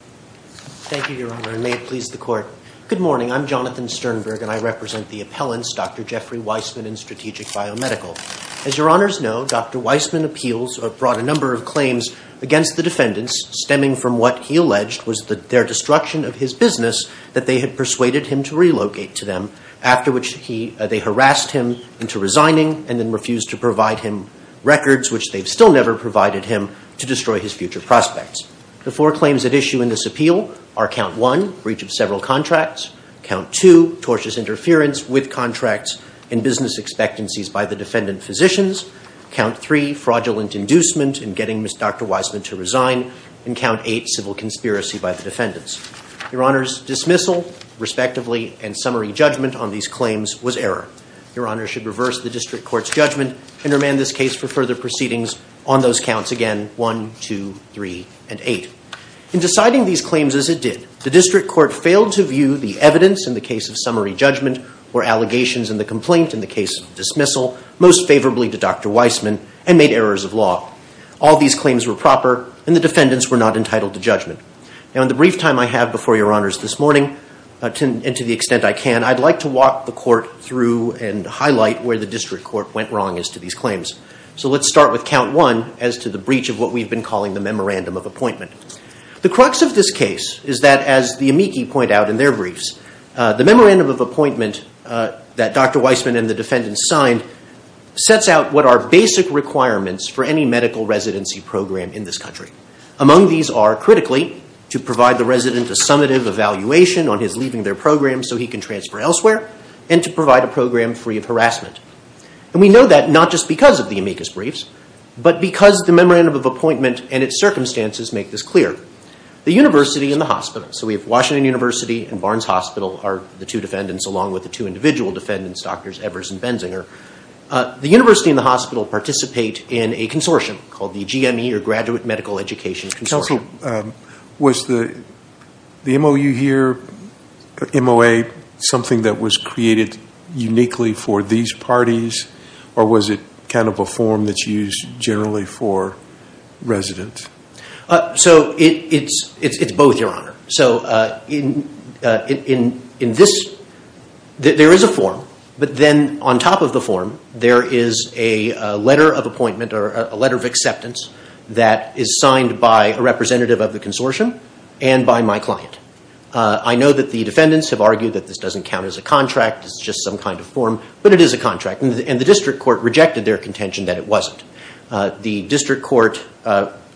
Thank you, Your Honor, and may it please the Court. Good morning. I'm Jonathan Sternberg, and I represent the appellants, Dr. Jeffrey Weisman and Strategic Biomedical. As Your Honors know, Dr. Weisman brought a number of claims against the defendants, stemming from what he alleged was their destruction of his business that they had persuaded him to relocate to them, after which they harassed him into resigning and then refused to provide him records, which they've still never provided him, to destroy his future prospects. The four claims at issue in this appeal are Count 1, breach of several contracts, Count 2, tortious interference with contracts and business expectancies by the defendant physicians, Count 3, fraudulent inducement in getting Dr. Weisman to resign, and Count 8, civil conspiracy by the defendants. Your Honor's dismissal, respectively, and summary judgment on these claims was error. Your Honor should reverse the District Court's judgment and remand this case for further proceedings. On those counts again, 1, 2, 3, and 8. In deciding these claims as it did, the District Court failed to view the evidence in the case of summary judgment or allegations in the complaint in the case of dismissal, most favorably to Dr. Weisman, and made errors of law. All these claims were proper, and the defendants were not entitled to judgment. Now, in the brief time I have before Your Honors this morning, and to the extent I can, I'd like to walk the Court through and highlight where the District Court went wrong as to these claims. So let's start with Count 1 as to the breach of what we've been calling the Memorandum of Appointment. The crux of this case is that, as the amici point out in their briefs, the Memorandum of Appointment that Dr. Weisman and the defendants signed sets out what are basic requirements for any medical residency program in this country. Among these are, critically, to provide the resident a summative evaluation on his leaving their program so he can transfer elsewhere, and to provide a program free of harassment. And we know that not just because of the amicus briefs, but because the Memorandum of Appointment and its circumstances make this clear. The University and the hospital, so we have Washington University and Barnes Hospital are the two defendants, along with the two individual defendants, Drs. Evers and Benzinger. The University and the hospital participate in a consortium called the GME, or Graduate Medical Education Consortium. Was the MOU here, MOA, something that was created uniquely for these parties, or was it kind of a form that's used generally for residents? It's both, Your Honor. There is a form, but then on top of the form there is a letter of appointment, or a letter of acceptance that is signed by a representative of the consortium and by my client. I know that the defendants have argued that this doesn't count as a contract, it's just some kind of form, but it is a contract. And the district court rejected their contention that it wasn't. The district court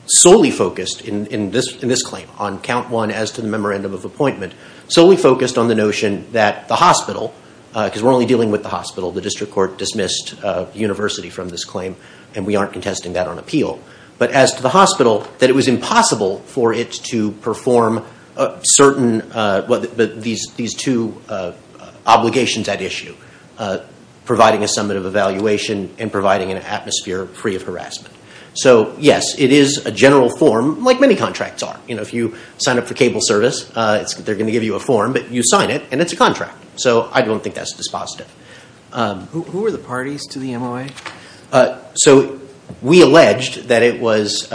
solely focused, in this claim, on count one as to the Memorandum of Appointment, solely focused on the notion that the hospital, because we're only dealing with the hospital, the district court dismissed the University from this claim, and we aren't contesting that on appeal. But as to the hospital, that it was impossible for it to perform these two obligations at issue, providing a summative evaluation and providing an atmosphere free of harassment. So, yes, it is a general form, like many contracts are. If you sign up for cable service, they're going to give you a form, but you sign it and it's a contract. So I don't think that's dispositive. Who were the parties to the MOA? So we alleged that it was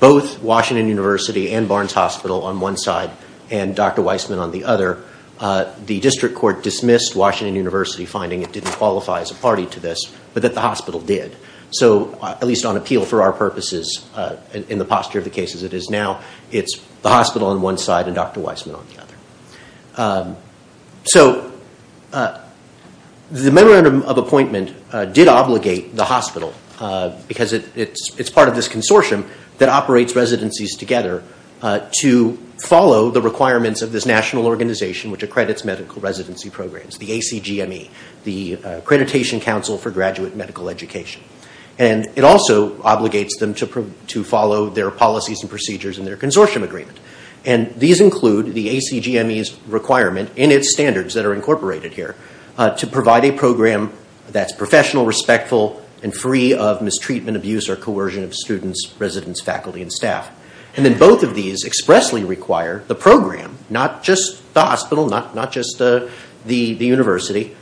both Washington University and Barnes Hospital on one side and Dr. Weissman on the other. The district court dismissed Washington University finding it didn't qualify as a party to this, but that the hospital did. So, at least on appeal for our purposes, in the posture of the cases it is now, it's the hospital on one side and Dr. Weissman on the other. So the memorandum of appointment did obligate the hospital, because it's part of this consortium that operates residencies together, to follow the requirements of this national organization which accredits medical residency programs, the ACGME, the Accreditation Council for Graduate Medical Education. And it also obligates them to follow their policies and procedures in their consortium agreement. And these include the ACGME's requirement in its standards that are incorporated here to provide a program that's professional, respectful, and free of mistreatment, abuse, or coercion of students, residents, faculty, and staff. And then both of these expressly require the program, not just the hospital, not just the university,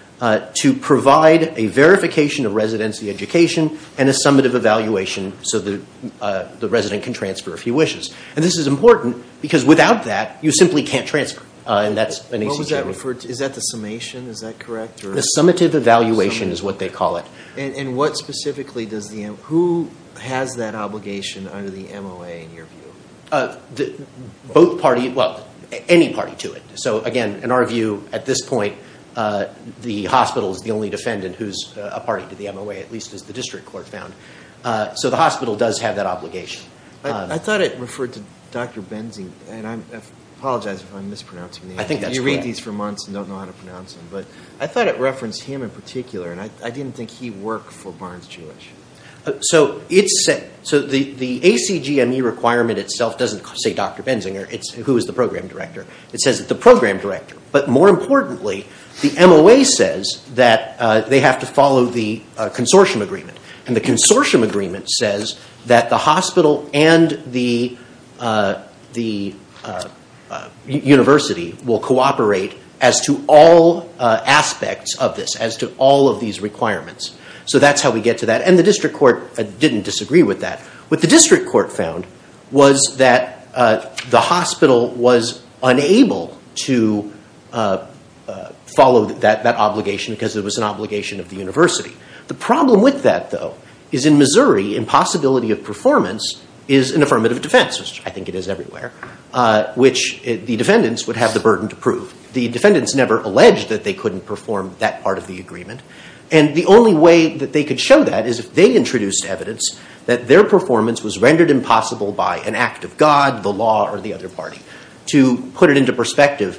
to provide a verification of residency education and a summative evaluation so the resident can transfer if he wishes. And this is important, because without that, you simply can't transfer. And that's an ACGME. What was that referred to? Is that the summation? Is that correct? The summative evaluation is what they call it. And what specifically does the – who has that obligation under the MOA in your view? Both parties – well, any party to it. So again, in our view, at this point, the hospital is the only defendant who's a party to the MOA, at least as the district court found. So the hospital does have that obligation. I thought it referred to Dr. Benzinger. And I apologize if I'm mispronouncing the name. I think that's correct. You read these for months and don't know how to pronounce them. But I thought it referenced him in particular, and I didn't think he worked for Barnes-Jewish. So the ACGME requirement itself doesn't say Dr. Benzinger. It's who is the program director. It says the program director. But more importantly, the MOA says that they have to follow the consortium agreement. And the consortium agreement says that the hospital and the university will cooperate as to all aspects of this, as to all of these requirements. So that's how we get to that. And the district court didn't disagree with that. What the district court found was that the hospital was unable to follow that obligation because it was an obligation of the university. The problem with that, though, is in Missouri, impossibility of performance is an affirmative defense, which I think it is everywhere, which the defendants would have the burden to prove. The defendants never alleged that they couldn't perform that part of the agreement. And the only way that they could show that is if they introduced evidence that their performance was rendered impossible by an act of God, the law, or the other party. To put it into perspective,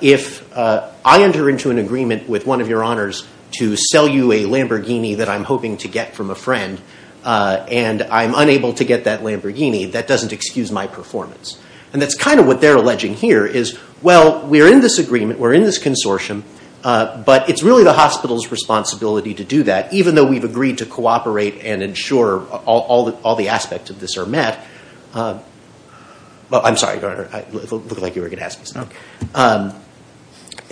if I enter into an agreement with one of your honors to sell you a Lamborghini that I'm hoping to get from a friend and I'm unable to get that Lamborghini, that doesn't excuse my performance. And that's kind of what they're alleging here is, well, we're in this agreement, we're in this consortium, but it's really the hospital's responsibility to do that, even though we've agreed to cooperate and ensure all the aspects of this are met. I'm sorry, Your Honor, it looked like you were going to ask me something.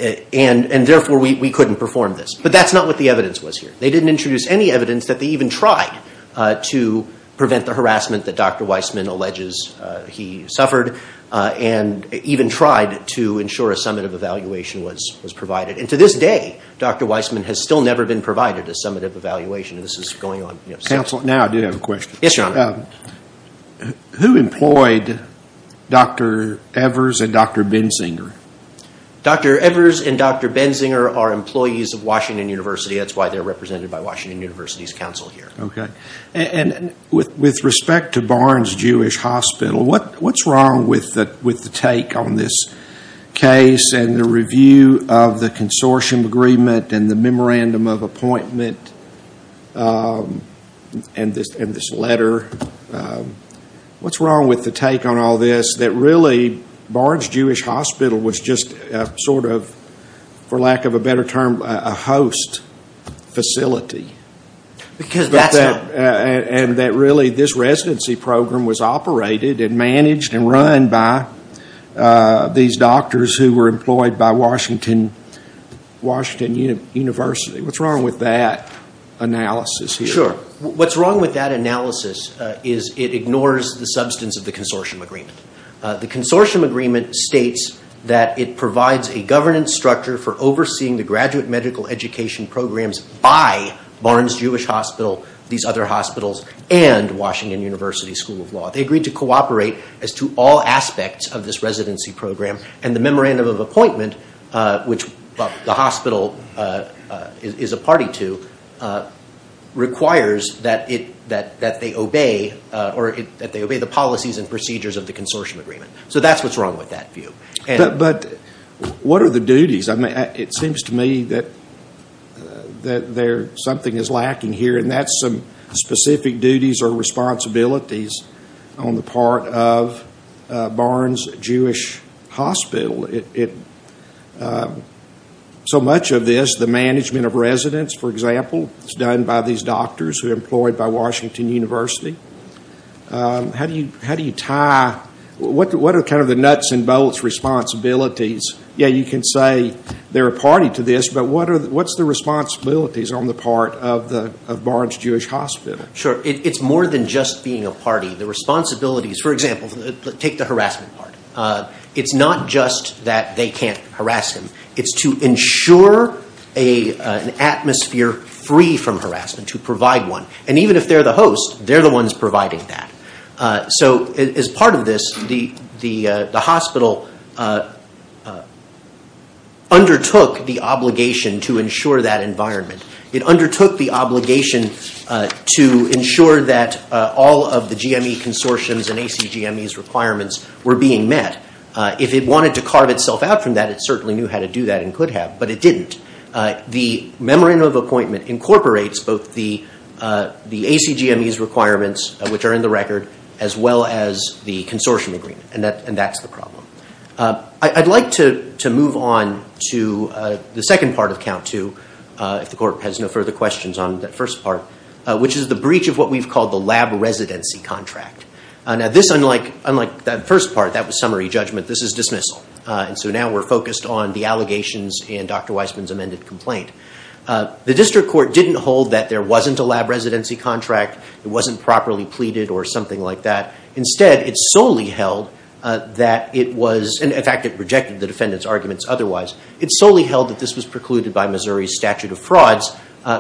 And therefore, we couldn't perform this. But that's not what the evidence was here. They didn't introduce any evidence that they even tried to prevent the harassment that Dr. Weissman alleges he suffered and even tried to ensure a summative evaluation was provided. And to this day, Dr. Weissman has still never been provided a summative evaluation. Counsel, now I do have a question. Yes, Your Honor. Who employed Dr. Evers and Dr. Benzinger? Dr. Evers and Dr. Benzinger are employees of Washington University. That's why they're represented by Washington University's counsel here. Okay. And with respect to Barnes-Jewish Hospital, what's wrong with the take on this case and the review of the consortium agreement and the memorandum of appointment and this letter? What's wrong with the take on all this that really Barnes-Jewish Hospital was just sort of, for lack of a better term, a host facility and that really this residency program was operated and managed and run by these doctors who were employed by Washington University? What's wrong with that analysis here? Sure. What's wrong with that analysis is it ignores the substance of the consortium agreement. The consortium agreement states that it provides a governance structure for overseeing the graduate medical education programs by Barnes-Jewish Hospital, these other hospitals, and Washington University School of Law. They agreed to cooperate as to all aspects of this residency program. And the memorandum of appointment, which the hospital is a party to, requires that they obey the policies and procedures of the consortium agreement. So that's what's wrong with that view. But what are the duties? It seems to me that something is lacking here, and that's some specific duties or responsibilities on the part of Barnes-Jewish Hospital. So much of this, the management of residents, for example, is done by these doctors who are employed by Washington University. How do you tie? What are kind of the nuts and bolts responsibilities? Yeah, you can say they're a party to this, but what's the responsibilities on the part of Barnes-Jewish Hospital? Sure. It's more than just being a party. The responsibilities, for example, take the harassment part. It's not just that they can't harass him. It's to ensure an atmosphere free from harassment, to provide one. And even if they're the host, they're the ones providing that. So as part of this, the hospital undertook the obligation to ensure that environment. It undertook the obligation to ensure that all of the GME consortiums and ACGME's requirements were being met. If it wanted to carve itself out from that, it certainly knew how to do that and could have, but it didn't. The memorandum of appointment incorporates both the ACGME's requirements, which are in the record, as well as the consortium agreement, and that's the problem. I'd like to move on to the second part of count two, if the court has no further questions on that first part, which is the breach of what we've called the lab residency contract. Now this, unlike that first part, that was summary judgment, this is dismissal. So now we're focused on the allegations and Dr. Weisman's amended complaint. The district court didn't hold that there wasn't a lab residency contract, it wasn't properly pleaded or something like that. Instead, it solely held that it was, in fact it rejected the defendant's arguments otherwise, it solely held that this was precluded by Missouri's statute of frauds,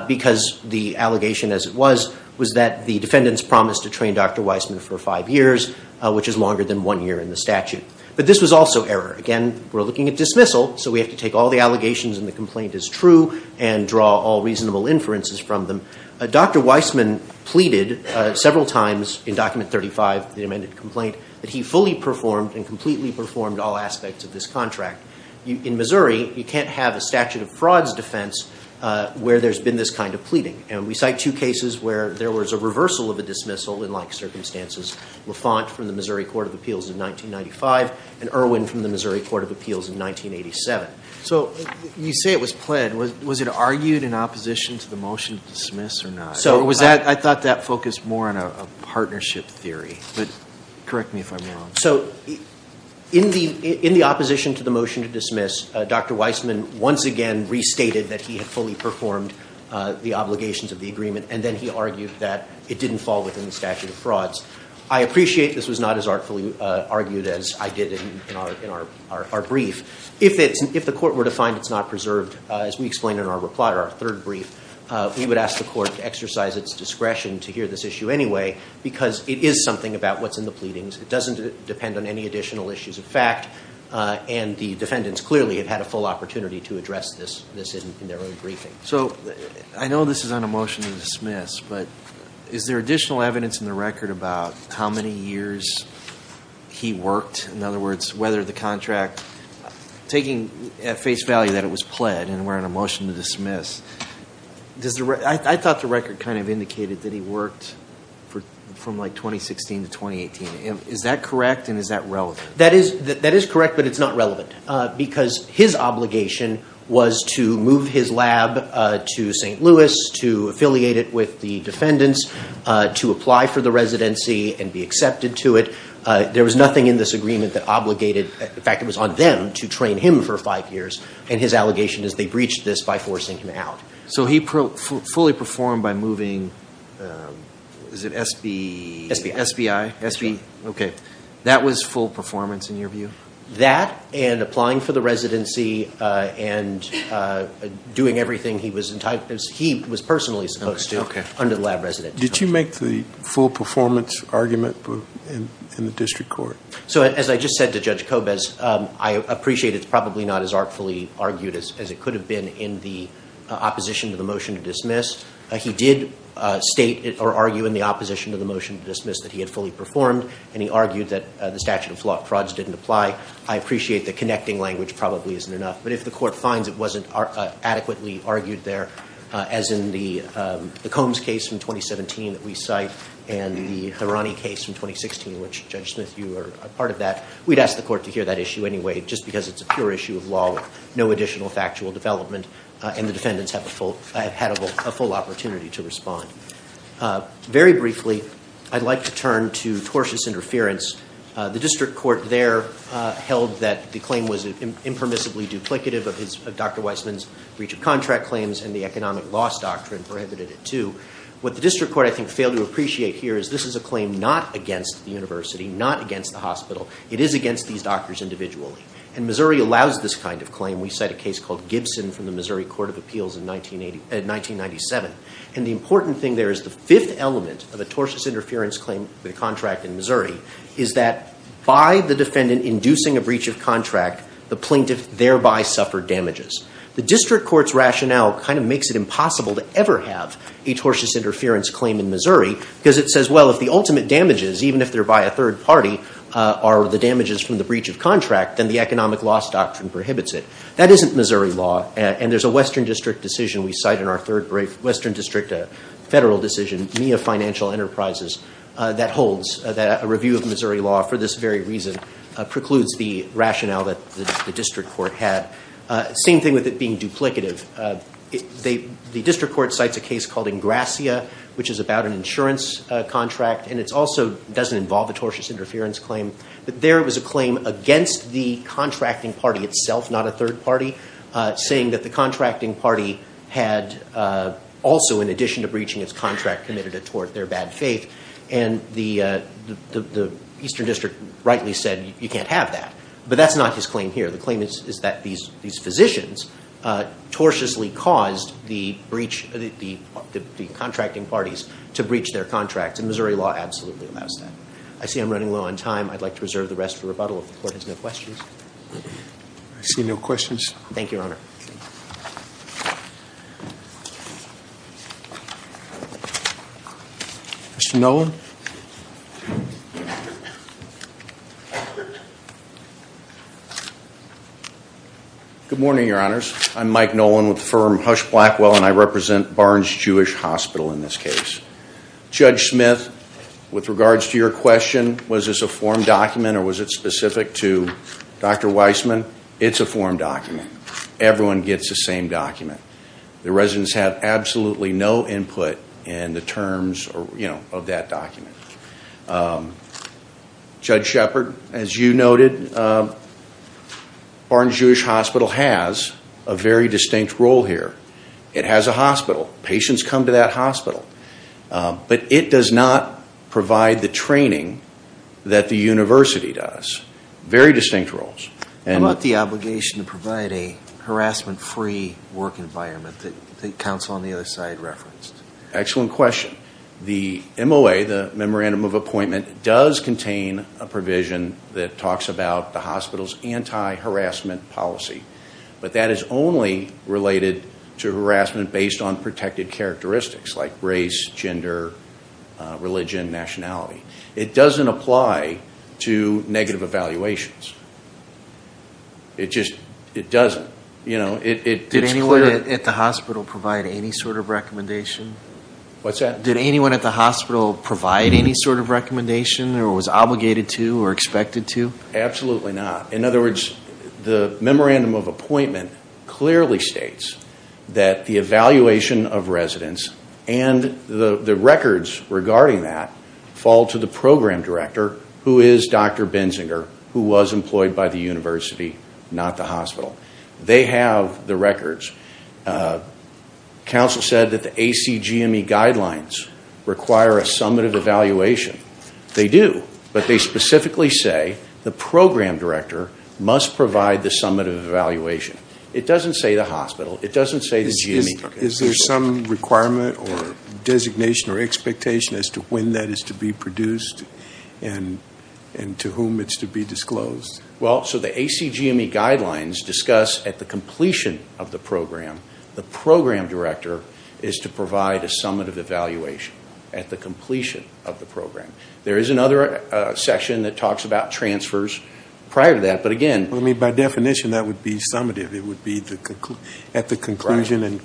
because the allegation as it was, was that the defendant's promised to train Dr. Weisman for five years, which is longer than one year in the statute. But this was also error. Again, we're looking at dismissal, so we have to take all the allegations and the complaint as true and draw all reasonable inferences from them. Dr. Weisman pleaded several times in document 35, the amended complaint, that he fully performed and completely performed all aspects of this contract. In Missouri, you can't have a statute of frauds defense where there's been this kind of pleading. And we cite two cases where there was a reversal of a dismissal, in like circumstances, Lafont from the Missouri Court of Appeals in 1995 and Irwin from the Missouri Court of Appeals in 1987. So you say it was pled. Was it argued in opposition to the motion to dismiss or not? I thought that focused more on a partnership theory, but correct me if I'm wrong. So in the opposition to the motion to dismiss, Dr. Weisman once again restated that he had fully performed the obligations of the agreement, and then he argued that it didn't fall within the statute of frauds. I appreciate this was not as artfully argued as I did in our brief. If the court were to find it's not preserved, as we explained in our third brief, we would ask the court to exercise its discretion to hear this issue anyway because it is something about what's in the pleadings. It doesn't depend on any additional issues of fact, and the defendants clearly have had a full opportunity to address this in their own briefing. So I know this is on a motion to dismiss, but is there additional evidence in the record about how many years he worked? In other words, whether the contract, taking at face value that it was pled and we're on a motion to dismiss, I thought the record kind of indicated that he worked from like 2016 to 2018. Is that correct and is that relevant? That is correct, but it's not relevant because his obligation was to move his lab to St. Louis, to affiliate it with the defendants, to apply for the residency and be accepted to it. There was nothing in this agreement that obligated. In fact, it was on them to train him for five years and his allegation is they breached this by forcing him out. So he fully performed by moving, is it SBI? That was full performance in your view? That and applying for the residency and doing everything he was personally supposed to under the lab residency. Did you make the full performance argument in the district court? So as I just said to Judge Kobes, I appreciate it's probably not as artfully argued as it could have been in the opposition to the motion to dismiss. He did state or argue in the opposition to the motion to dismiss that he had fully performed and he argued that the statute of frauds didn't apply. I appreciate the connecting language probably isn't enough, but if the court finds it wasn't adequately argued there, as in the Combs case from 2017 that we cite and the Hirani case from 2016, which Judge Smith, you were a part of that, we'd ask the court to hear that issue anyway, just because it's a pure issue of law with no additional factual development and the defendants have had a full opportunity to respond. Very briefly, I'd like to turn to tortious interference. The district court there held that the claim was impermissibly duplicative of Dr. Weissman's breach of contract claims and the economic loss doctrine prohibited it too. What the district court I think failed to appreciate here is this is a claim not against the university, not against the hospital. It is against these doctors individually. And Missouri allows this kind of claim. We cite a case called Gibson from the Missouri Court of Appeals in 1997. And the important thing there is the fifth element of a tortious interference claim with a contract in Missouri is that by the defendant inducing a breach of contract, the plaintiff thereby suffered damages. The district court's rationale kind of makes it impossible to ever have a tortious interference claim in Missouri because it says, well, if the ultimate damages, even if they're by a third party, are the damages from the breach of contract, then the economic loss doctrine prohibits it. That isn't Missouri law. And there's a Western District decision we cite in our third brief. Western District, a federal decision, MIA Financial Enterprises, that holds that a review of Missouri law for this very reason precludes the rationale that the district court had. Same thing with it being duplicative. The district court cites a case called Ingrassia, which is about an insurance contract, and it also doesn't involve a tortious interference claim. But there was a claim against the contracting party itself, not a third party, saying that the contracting party had also, in addition to breaching its contract, committed a tort, their bad faith. And the Eastern District rightly said, you can't have that. But that's not his claim here. The claim is that these physicians tortiously caused the contracting parties to breach their contracts. And Missouri law absolutely allows that. I see I'm running low on time. I'd like to reserve the rest for rebuttal if the court has no questions. I see no questions. Thank you, Your Honor. Mr. Nolan? Good morning, Your Honors. I'm Mike Nolan with the firm Hush Blackwell, and I represent Barnes Jewish Hospital in this case. Judge Smith, with regards to your question, was this a form document or was it specific to Dr. Weissman? It's a form document. Everyone gets the same document. The residents have absolutely no input in the terms of that document. Judge Shepard, as you noted, Barnes Jewish Hospital has a very distinct role here. It has a hospital. Patients come to that hospital. But it does not provide the training that the university does. Very distinct roles. How about the obligation to provide a harassment-free work environment that counsel on the other side referenced? Excellent question. The MOA, the Memorandum of Appointment, does contain a provision that talks about the hospital's anti-harassment policy. But that is only related to harassment based on protected characteristics like race, gender, religion, nationality. It doesn't apply to negative evaluations. It just doesn't. Did anyone at the hospital provide any sort of recommendation? What's that? Did anyone at the hospital provide any sort of recommendation or was obligated to or expected to? Absolutely not. In other words, the Memorandum of Appointment clearly states that the evaluation of residents and the records regarding that fall to the program director who is Dr. Bensinger, who was employed by the university, not the hospital. They have the records. Counsel said that the ACGME guidelines require a summative evaluation. They do. But they specifically say the program director must provide the summative evaluation. It doesn't say the hospital. It doesn't say the GME. Is there some requirement or designation or expectation as to when that is to be produced and to whom it's to be disclosed? Well, so the ACGME guidelines discuss at the completion of the program, the program director is to provide a summative evaluation at the completion of the program. There is another section that talks about transfers prior to that. By definition, that would be summative. It would be at the conclusion and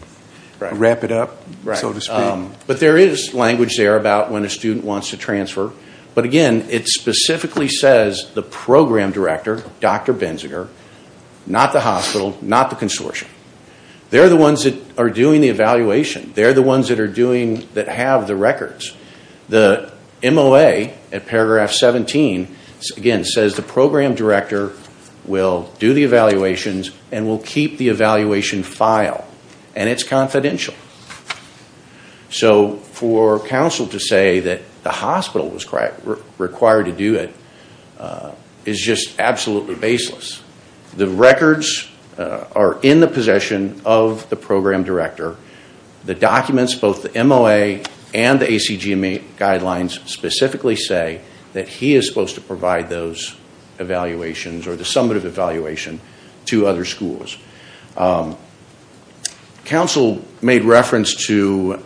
wrap it up, so to speak. But there is language there about when a student wants to transfer. But again, it specifically says the program director, Dr. Bensinger, not the hospital, not the consortium. They're the ones that are doing the evaluation. They're the ones that have the records. The MOA at paragraph 17, again, says the program director will do the evaluations and will keep the evaluation file, and it's confidential. So for counsel to say that the hospital was required to do it is just absolutely baseless. The records are in the possession of the program director. The documents, both the MOA and the ACGME guidelines, specifically say that he is supposed to provide those evaluations or the summative evaluation to other schools. Counsel made reference to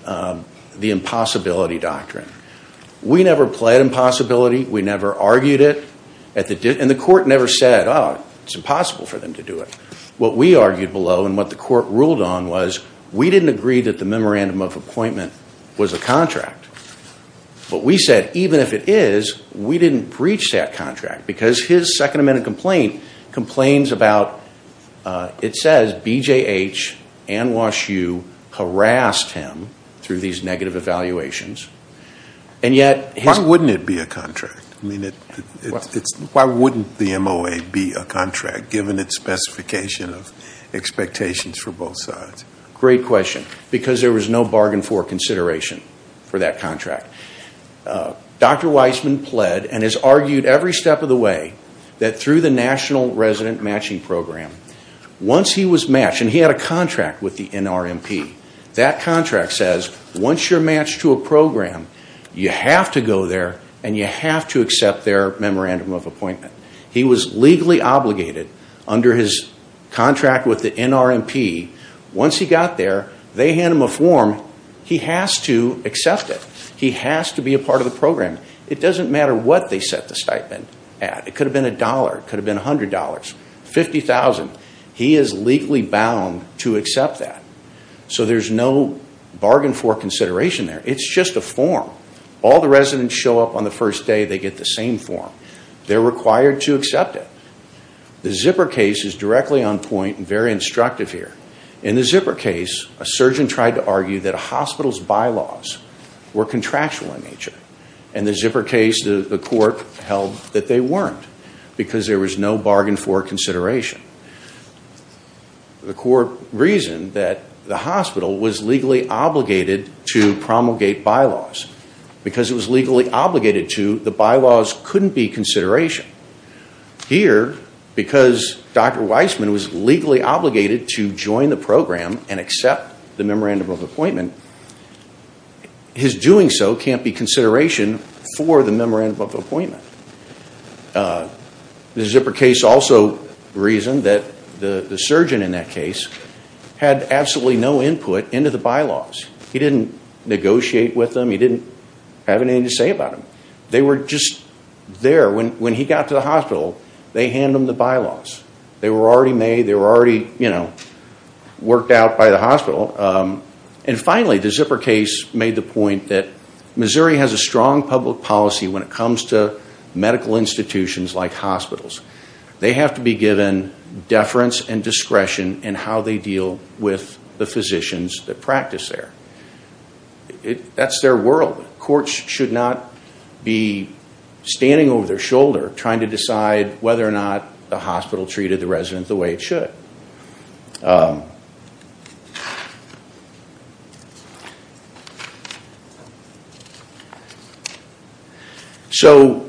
the impossibility doctrine. We never pled impossibility. We never argued it, and the court never said, oh, it's impossible for them to do it. What we argued below and what the court ruled on was we didn't agree that the memorandum of appointment was a contract. But we said, even if it is, we didn't breach that contract because his Second Amendment complaint complains about, it says, BJH and Wash U harassed him through these negative evaluations. And yet his- Why wouldn't it be a contract? I mean, why wouldn't the MOA be a contract, given its specification of expectations for both sides? Great question, because there was no bargain for consideration for that contract. Dr. Weissman pled and has argued every step of the way that through the National Resident Matching Program, once he was matched, and he had a contract with the NRMP, that contract says, once you're matched to a program, you have to go there and you have to accept their memorandum of appointment. He was legally obligated under his contract with the NRMP. Once he got there, they hand him a form. He has to accept it. He has to be a part of the program. It doesn't matter what they set the stipend at. It could have been a dollar. It could have been $100, $50,000. He is legally bound to accept that. So there's no bargain for consideration there. It's just a form. All the residents show up on the first day, they get the same form. They're required to accept it. The zipper case is directly on point and very instructive here. In the zipper case, a surgeon tried to argue that a hospital's bylaws were contractual in nature. In the zipper case, the court held that they weren't, because there was no bargain for consideration. The court reasoned that the hospital was legally obligated to promulgate bylaws. Because it was legally obligated to, the bylaws couldn't be consideration. Here, because Dr. Weissman was legally obligated to join the program and accept the memorandum of appointment, his doing so can't be consideration for the memorandum of appointment. The zipper case also reasoned that the surgeon in that case had absolutely no input into the bylaws. He didn't negotiate with them. He didn't have anything to say about them. They were just there. When he got to the hospital, they hand him the bylaws. They were already made. They were already worked out by the hospital. And finally, the zipper case made the point that Missouri has a strong public policy when it comes to medical institutions like hospitals. They have to be given deference and discretion in how they deal with the physicians that practice there. That's their world. Courts should not be standing over their shoulder trying to decide whether or not the hospital treated the resident the way it should. So,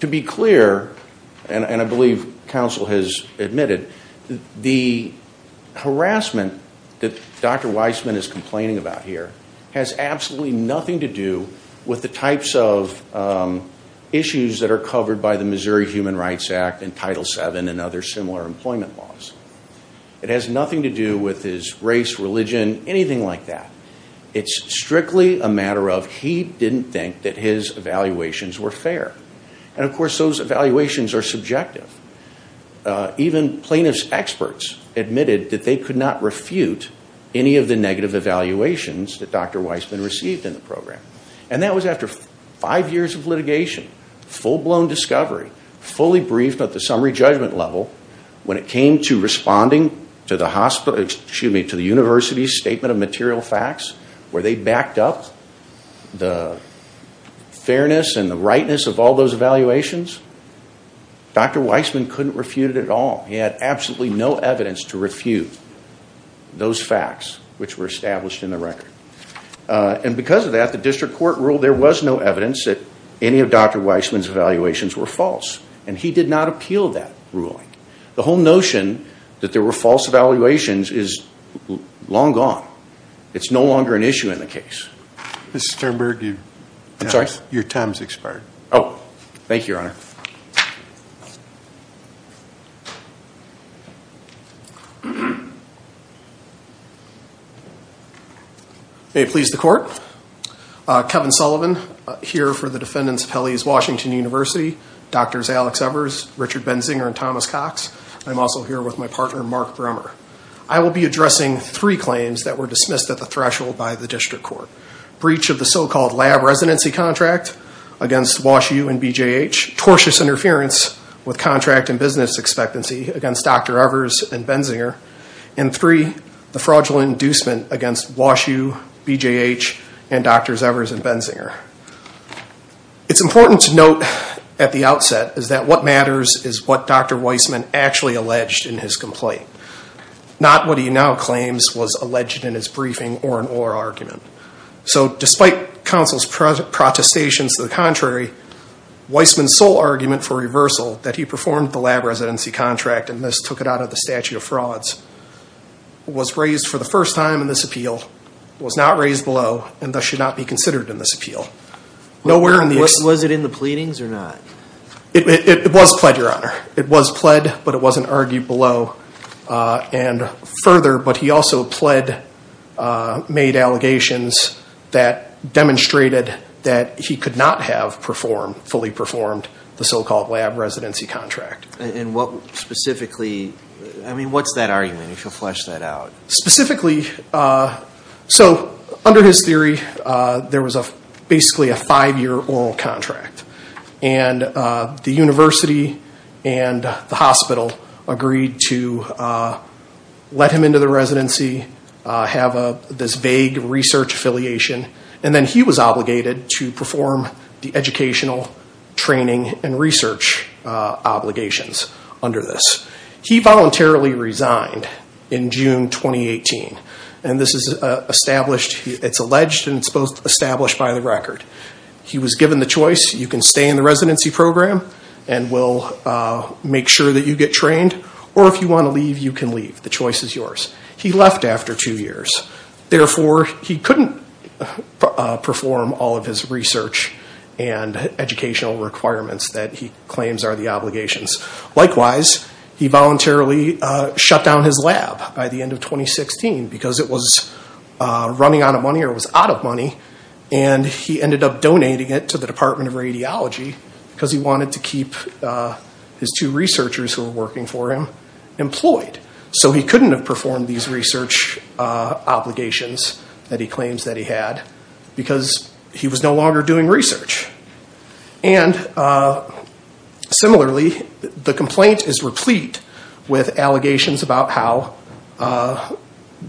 to be clear, and I believe counsel has admitted, the harassment that Dr. Weissman is complaining about here has absolutely nothing to do with the types of issues that are covered by the Missouri Human Rights Act and Title VII and other similar employment laws. It has nothing to do with his race, religion, anything like that. It's strictly a matter of he didn't think that his evaluations were fair. And, of course, those evaluations are subjective. Even plaintiff's experts admitted that they could not refute any of the negative evaluations that Dr. Weissman received in the program. And that was after five years of litigation, full-blown discovery, fully briefed at the summary judgment level, when it came to responding to the university's statement of material facts, where they backed up the fairness and the rightness of all those evaluations, Dr. Weissman couldn't refute it at all. He had absolutely no evidence to refute those facts which were established in the record. And because of that, the district court ruled there was no evidence that any of Dr. Weissman's evaluations were false. And he did not appeal that ruling. The whole notion that there were false evaluations is long gone. It's no longer an issue in the case. Mr. Sternberg, your time has expired. Oh, thank you, Your Honor. May it please the Court, Kevin Sullivan here for the defendants of Pele's Washington University, Drs. Alex Evers, Richard Benzinger, and Thomas Cox. I'm also here with my partner, Mark Bremmer. I will be addressing three claims that were dismissed at the threshold by the district court. Breach of the so-called lab residency contract against Wash U and BJH. Tortious interference with contract and business expectancy against Dr. Evers and Benzinger. And three, the fraudulent inducement against Wash U, BJH, and Drs. Evers and Benzinger. It's important to note at the outset that what matters is what Dr. Weissman actually alleged in his complaint. Not what he now claims was alleged in his briefing or in oral argument. So despite counsel's protestations to the contrary, Weissman's sole argument for reversal that he performed the lab residency contract, and this took it out of the statute of frauds, was raised for the first time in this appeal, was not raised below, and thus should not be considered in this appeal. Was it in the pleadings or not? It was pled, Your Honor. It was pled, but it wasn't argued below and further, but he also pled, made allegations that demonstrated that he could not have performed, fully performed the so-called lab residency contract. And what specifically, I mean, what's that argument, if you'll flesh that out? Specifically, so under his theory, there was basically a five-year oral contract. And the university and the hospital agreed to let him into the residency, have this vague research affiliation, and then he was obligated to perform the educational training and research obligations under this. He voluntarily resigned in June 2018, and this is established, it's alleged, and it's both established by the record. He was given the choice, you can stay in the residency program and we'll make sure that you get trained, or if you want to leave, you can leave. The choice is yours. He left after two years. Therefore, he couldn't perform all of his research and educational requirements that he claims are the obligations. Likewise, he voluntarily shut down his lab by the end of 2016 because it was running out of money or it was out of money, and he ended up donating it to the Department of Radiology because he wanted to keep his two researchers who were working for him employed. So he couldn't have performed these research obligations that he claims that he had because he was no longer doing research. And similarly, the complaint is replete with allegations about how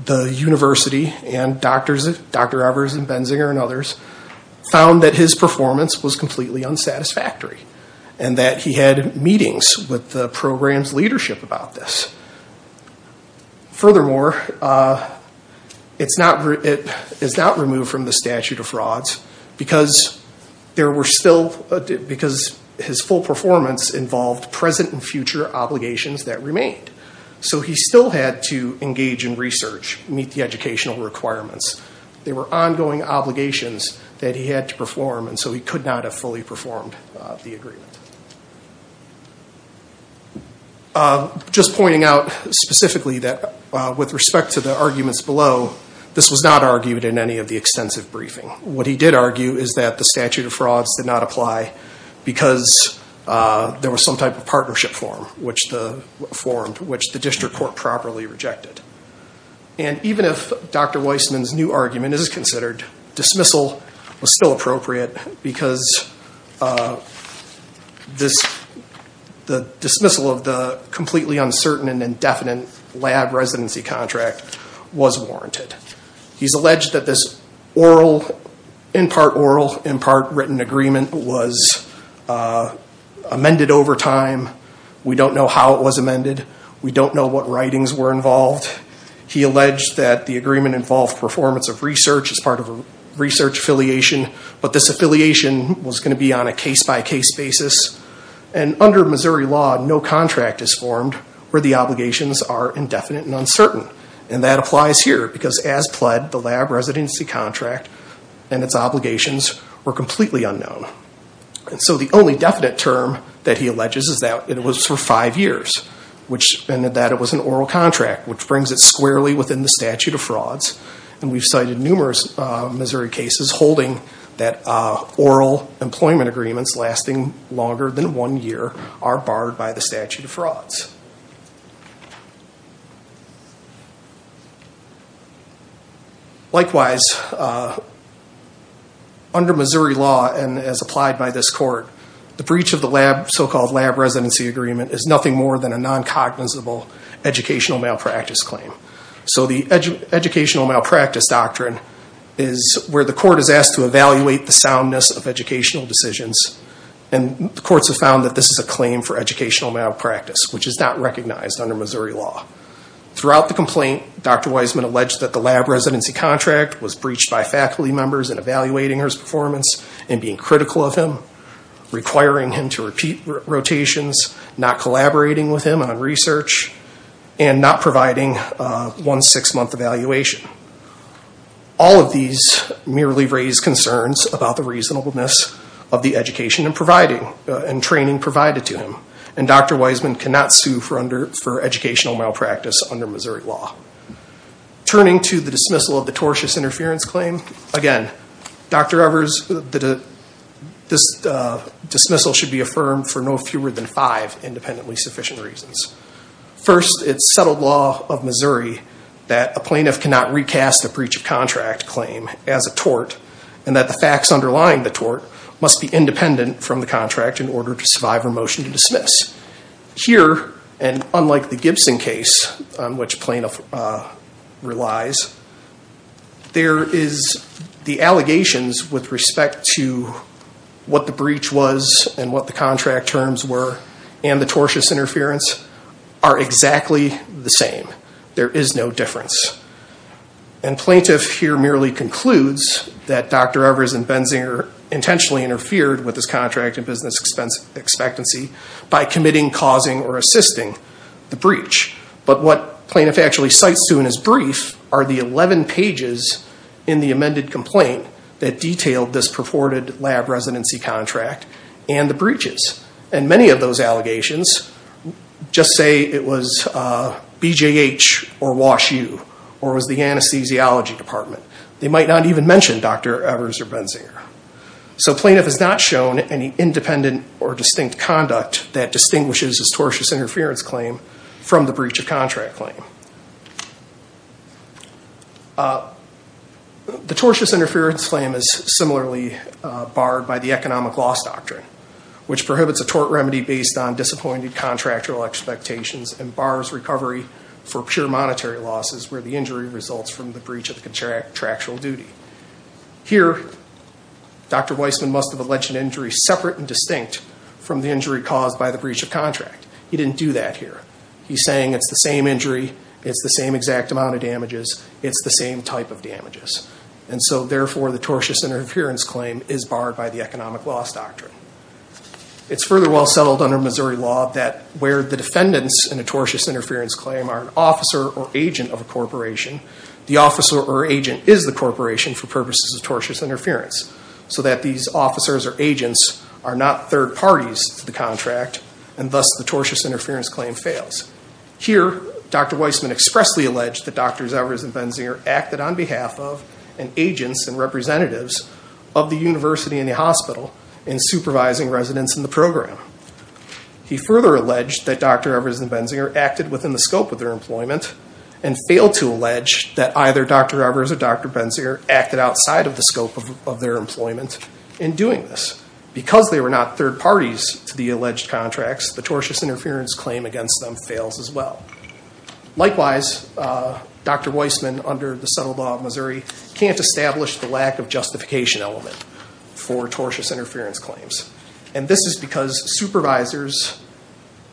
the university and Dr. Evers and Benzinger and others found that his performance was completely unsatisfactory and that he had meetings with the program's leadership about this. Furthermore, it is not removed from the statute of frauds because his full performance involved present and future obligations that remained. So he still had to engage in research, meet the educational requirements. They were ongoing obligations that he had to perform, and so he could not have fully performed the agreement. Just pointing out specifically that with respect to the arguments below, this was not argued in any of the extensive briefing. What he did argue is that the statute of frauds did not apply because there was some type of partnership form which the district court properly rejected. And even if Dr. Weissman's new argument is considered, dismissal was still appropriate because the dismissal of the completely uncertain and indefinite lab residency contract was warranted. He's alleged that this in part oral, in part written agreement was amended over time. We don't know how it was amended. We don't know what writings were involved. He alleged that the agreement involved performance of research as part of a research affiliation, but this affiliation was going to be on a case-by-case basis. And under Missouri law, no contract is formed where the obligations are indefinite and uncertain. And that applies here because as pled, the lab residency contract and its obligations were completely unknown. And so the only definite term that he alleges is that it was for five years, and that it was an oral contract which brings it squarely within the statute of frauds. And we've cited numerous Missouri cases holding that oral employment agreements lasting longer than one year are barred by the statute of frauds. Likewise, under Missouri law and as applied by this court, the breach of the so-called lab residency agreement is nothing more than a non-cognizable educational malpractice claim. So the educational malpractice doctrine is where the court is asked to evaluate the soundness of educational decisions, and the courts have found that this is a claim for educational malpractice, which is not recognized under Missouri law. Throughout the complaint, Dr. Wiseman alleged that the lab residency contract was breached by faculty members in evaluating his performance and being critical of him, requiring him to repeat rotations, not collaborating with him on research, and not providing one six-month evaluation. All of these merely raise concerns about the reasonableness of the education and training provided to him. And Dr. Wiseman cannot sue for educational malpractice under Missouri law. Turning to the dismissal of the tortious interference claim, again, Dr. Evers, this dismissal should be affirmed for no fewer than five independently sufficient reasons. First, it's settled law of Missouri that a plaintiff cannot recast a breach of contract claim as a tort, and that the facts underlying the tort must be independent from the contract in order to survive a motion to dismiss. Here, and unlike the Gibson case on which plaintiff relies, there is the allegations with respect to what the breach was and what the contract terms were, and the tortious interference are exactly the same. There is no difference. And plaintiff here merely concludes that Dr. Evers and Benzinger intentionally interfered with his contract and business expectancy by committing, causing, or assisting the breach. But what plaintiff actually cites to in his brief are the 11 pages in the amended complaint that detailed this purported lab residency contract and the breaches. And many of those allegations just say it was BJH or Wash U, or it was the anesthesiology department. They might not even mention Dr. Evers or Benzinger. So plaintiff has not shown any independent or distinct conduct that distinguishes this tortious interference claim from the breach of contract claim. The tortious interference claim is similarly barred by the economic loss doctrine, which prohibits a tort remedy based on disappointed contractual expectations and bars recovery for pure monetary losses where the injury results from the breach of contractual duty. Here, Dr. Weissman must have alleged an injury separate and distinct from the injury caused by the breach of contract. He didn't do that here. He's saying it's the same injury, it's the same exact amount of damages, it's the same type of damages. And so, therefore, the tortious interference claim is barred by the economic loss doctrine. It's further well settled under Missouri law that where the defendants in a tortious interference claim are an officer or agent of a corporation, the officer or agent is the corporation for purposes of tortious interference. So that these officers or agents are not third parties to the contract, and thus the tortious interference claim fails. Here, Dr. Weissman expressly alleged that Drs. Evers and Benzinger acted on behalf of and agents and representatives of the university and the hospital in supervising residents in the program. He further alleged that Dr. Evers and Benzinger acted within the scope of their employment and failed to allege that either Dr. Evers or Dr. Benzinger acted outside of the scope of their employment in doing this. Because they were not third parties to the alleged contracts, the tortious interference claim against them fails as well. Likewise, Dr. Weissman, under the subtle law of Missouri, can't establish the lack of justification element for tortious interference claims. And this is because supervisors,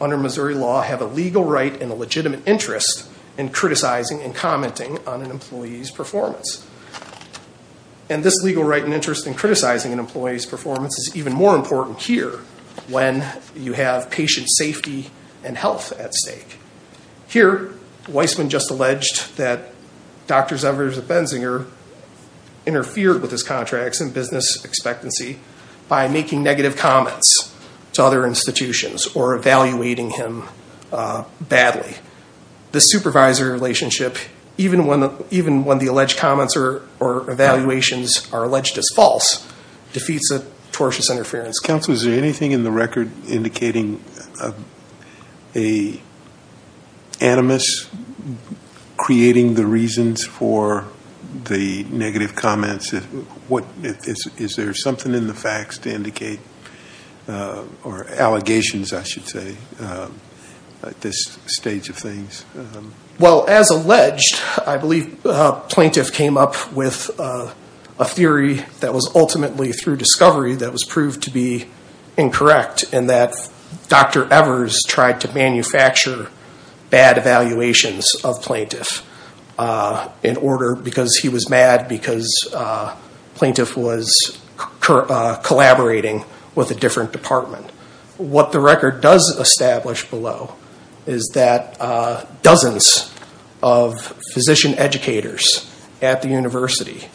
under Missouri law, have a legal right and a legitimate interest in criticizing and commenting on an employee's performance. And this legal right and interest in criticizing an employee's performance is even more important here when you have patient safety and health at stake. Here, Weissman just alleged that Drs. Evers and Benzinger interfered with his contracts and business expectancy by making negative comments to other institutions or evaluating him badly. The supervisor relationship, even when the alleged comments or evaluations are alleged as false, defeats the tortious interference claim. Counsel, is there anything in the record indicating an animus creating the reasons for the negative comments? Is there something in the facts to indicate, or allegations, I should say, at this stage of things? Well, as alleged, I believe Plaintiff came up with a theory that was ultimately through discovery that was proved to be incorrect in that Dr. Evers tried to manufacture bad evaluations of Plaintiff because he was mad because Plaintiff was collaborating with a different department. What the record does establish below is that dozens of physician educators at the university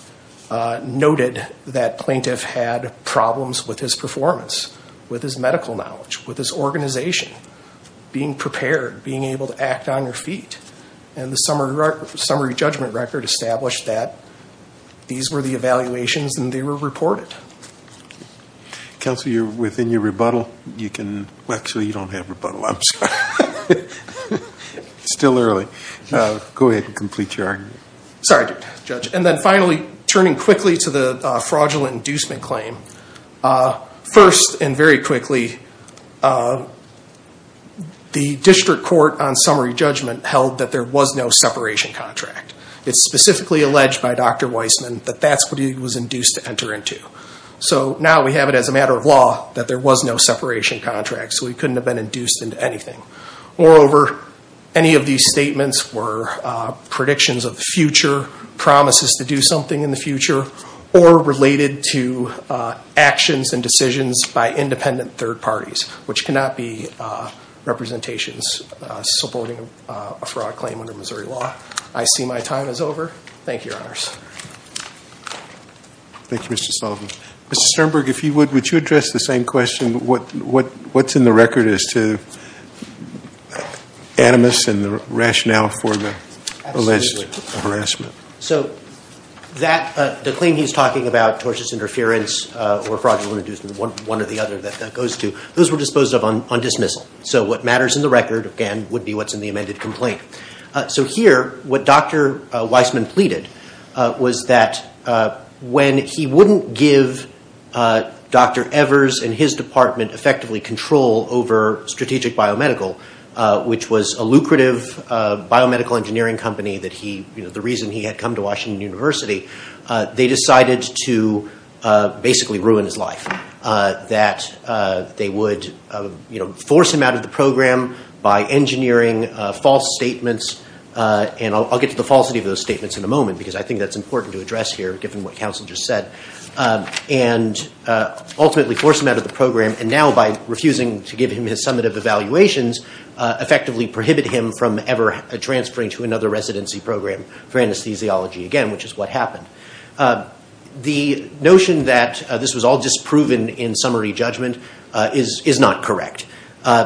noted that Plaintiff had problems with his performance, with his medical knowledge, with his organization, being prepared, being able to act on your feet. And the summary judgment record established that these were the evaluations and they were reported. Counsel, you're within your rebuttal. Actually, you don't have rebuttal, I'm sorry. It's still early. Go ahead and complete your argument. Sorry, Judge. And then finally, turning quickly to the fraudulent inducement claim, first and very quickly, the district court on summary judgment held that there was no separation contract. It's specifically alleged by Dr. Weissman that that's what he was induced to enter into. So now we have it as a matter of law that there was no separation contract, so he couldn't have been induced into anything. Moreover, any of these statements were predictions of the future, promises to do something in the future, or related to actions and decisions by independent third parties, which cannot be representations supporting a fraud claim under Missouri law. I see my time is over. Thank you, Your Honors. Thank you, Mr. Sullivan. Mr. Sternberg, if you would, would you address the same question, what's in the record as to animus and the rationale for the alleged harassment? So the claim he's talking about, tortuous interference or fraudulent inducement, one or the other that that goes to, those were disposed of on dismissal. So what matters in the record, again, would be what's in the amended complaint. So here, what Dr. Weissman pleaded was that when he wouldn't give Dr. Evers and his department effectively control over Strategic Biomedical, which was a lucrative biomedical engineering company, the reason he had come to Washington University, they decided to basically ruin his life. That they would force him out of the program by engineering false statements, and I'll get to the falsity of those statements in a moment, because I think that's important to address here, given what counsel just said. And ultimately force him out of the program, and now by refusing to give him his summative evaluations, effectively prohibit him from ever transferring to another residency program for anesthesiology again, which is what happened. The notion that this was all disproven in summary judgment is not correct.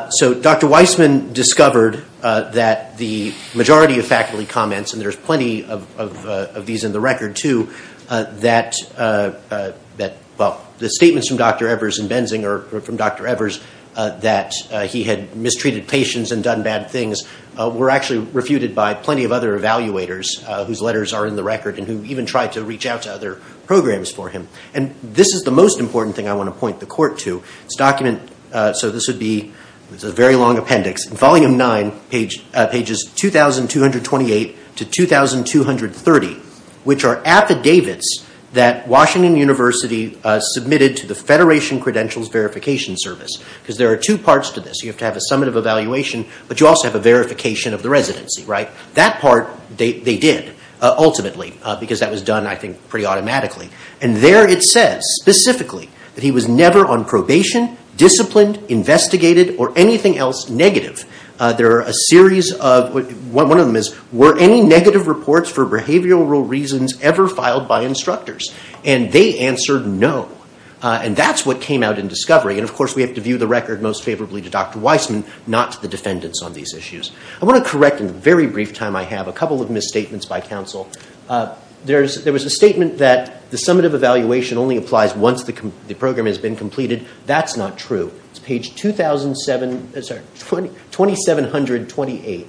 So Dr. Weissman discovered that the majority of faculty comments, and there's plenty of these in the record too, that the statements from Dr. Evers and Benzinger, or from Dr. Evers, that he had mistreated patients and done bad things, were actually refuted by plenty of other evaluators whose letters are in the record and who even tried to reach out to other programs for him. And this is the most important thing I want to point the court to. It's a document, so this would be a very long appendix, Volume 9, pages 2228 to 2230, which are affidavits that Washington University submitted to the Federation Credentials Verification Service. Because there are two parts to this. You have to have a summative evaluation, but you also have a verification of the residency, right? That part they did, ultimately, because that was done, I think, pretty automatically. And there it says, specifically, that he was never on probation, disciplined, investigated, or anything else negative. One of them is, were any negative reports for behavioral reasons ever filed by instructors? And they answered no. And that's what came out in discovery. And, of course, we have to view the record most favorably to Dr. Weissman, not to the defendants on these issues. I want to correct, in the very brief time I have, a couple of misstatements by counsel. There was a statement that the summative evaluation only applies once the program has been completed. That's not true. It's page 2728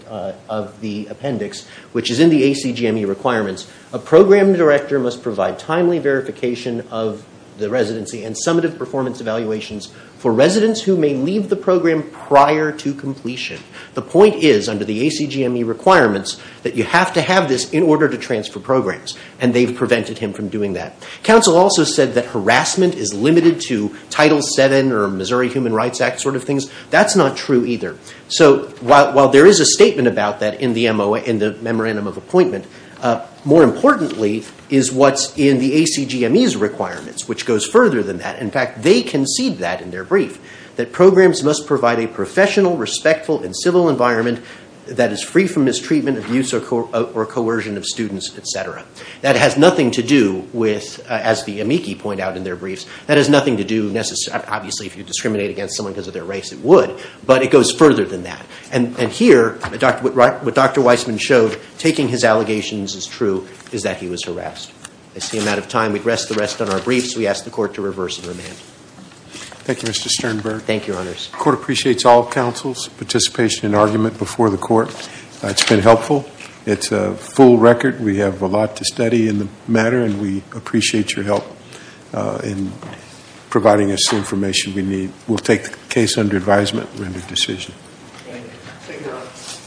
of the appendix, which is in the ACGME requirements. A program director must provide timely verification of the residency and summative performance evaluations for residents who may leave the program prior to completion. The point is, under the ACGME requirements, that you have to have this in order to transfer programs. And they've prevented him from doing that. Counsel also said that harassment is limited to Title VII or Missouri Human Rights Act sort of things. That's not true either. So while there is a statement about that in the memorandum of appointment, more importantly is what's in the ACGME's requirements, which goes further than that. In fact, they concede that in their brief, that programs must provide a professional, respectful, and civil environment that is free from mistreatment, abuse, or coercion of students, etc. That has nothing to do with, as the amici point out in their briefs, that has nothing to do, obviously, if you discriminate against someone because of their race, it would. But it goes further than that. And here, what Dr. Weissman showed, taking his allegations as true, is that he was harassed. I see I'm out of time. We'd rest the rest on our briefs. We ask the Court to reverse the remand. Thank you, Mr. Sternberg. Thank you, Your Honors. The Court appreciates all counsel's participation and argument before the Court. It's been helpful. It's a full record. We have a lot to study in the matter. And we appreciate your help in providing us the information we need. We'll take the case under advisement and render decision. Thank you.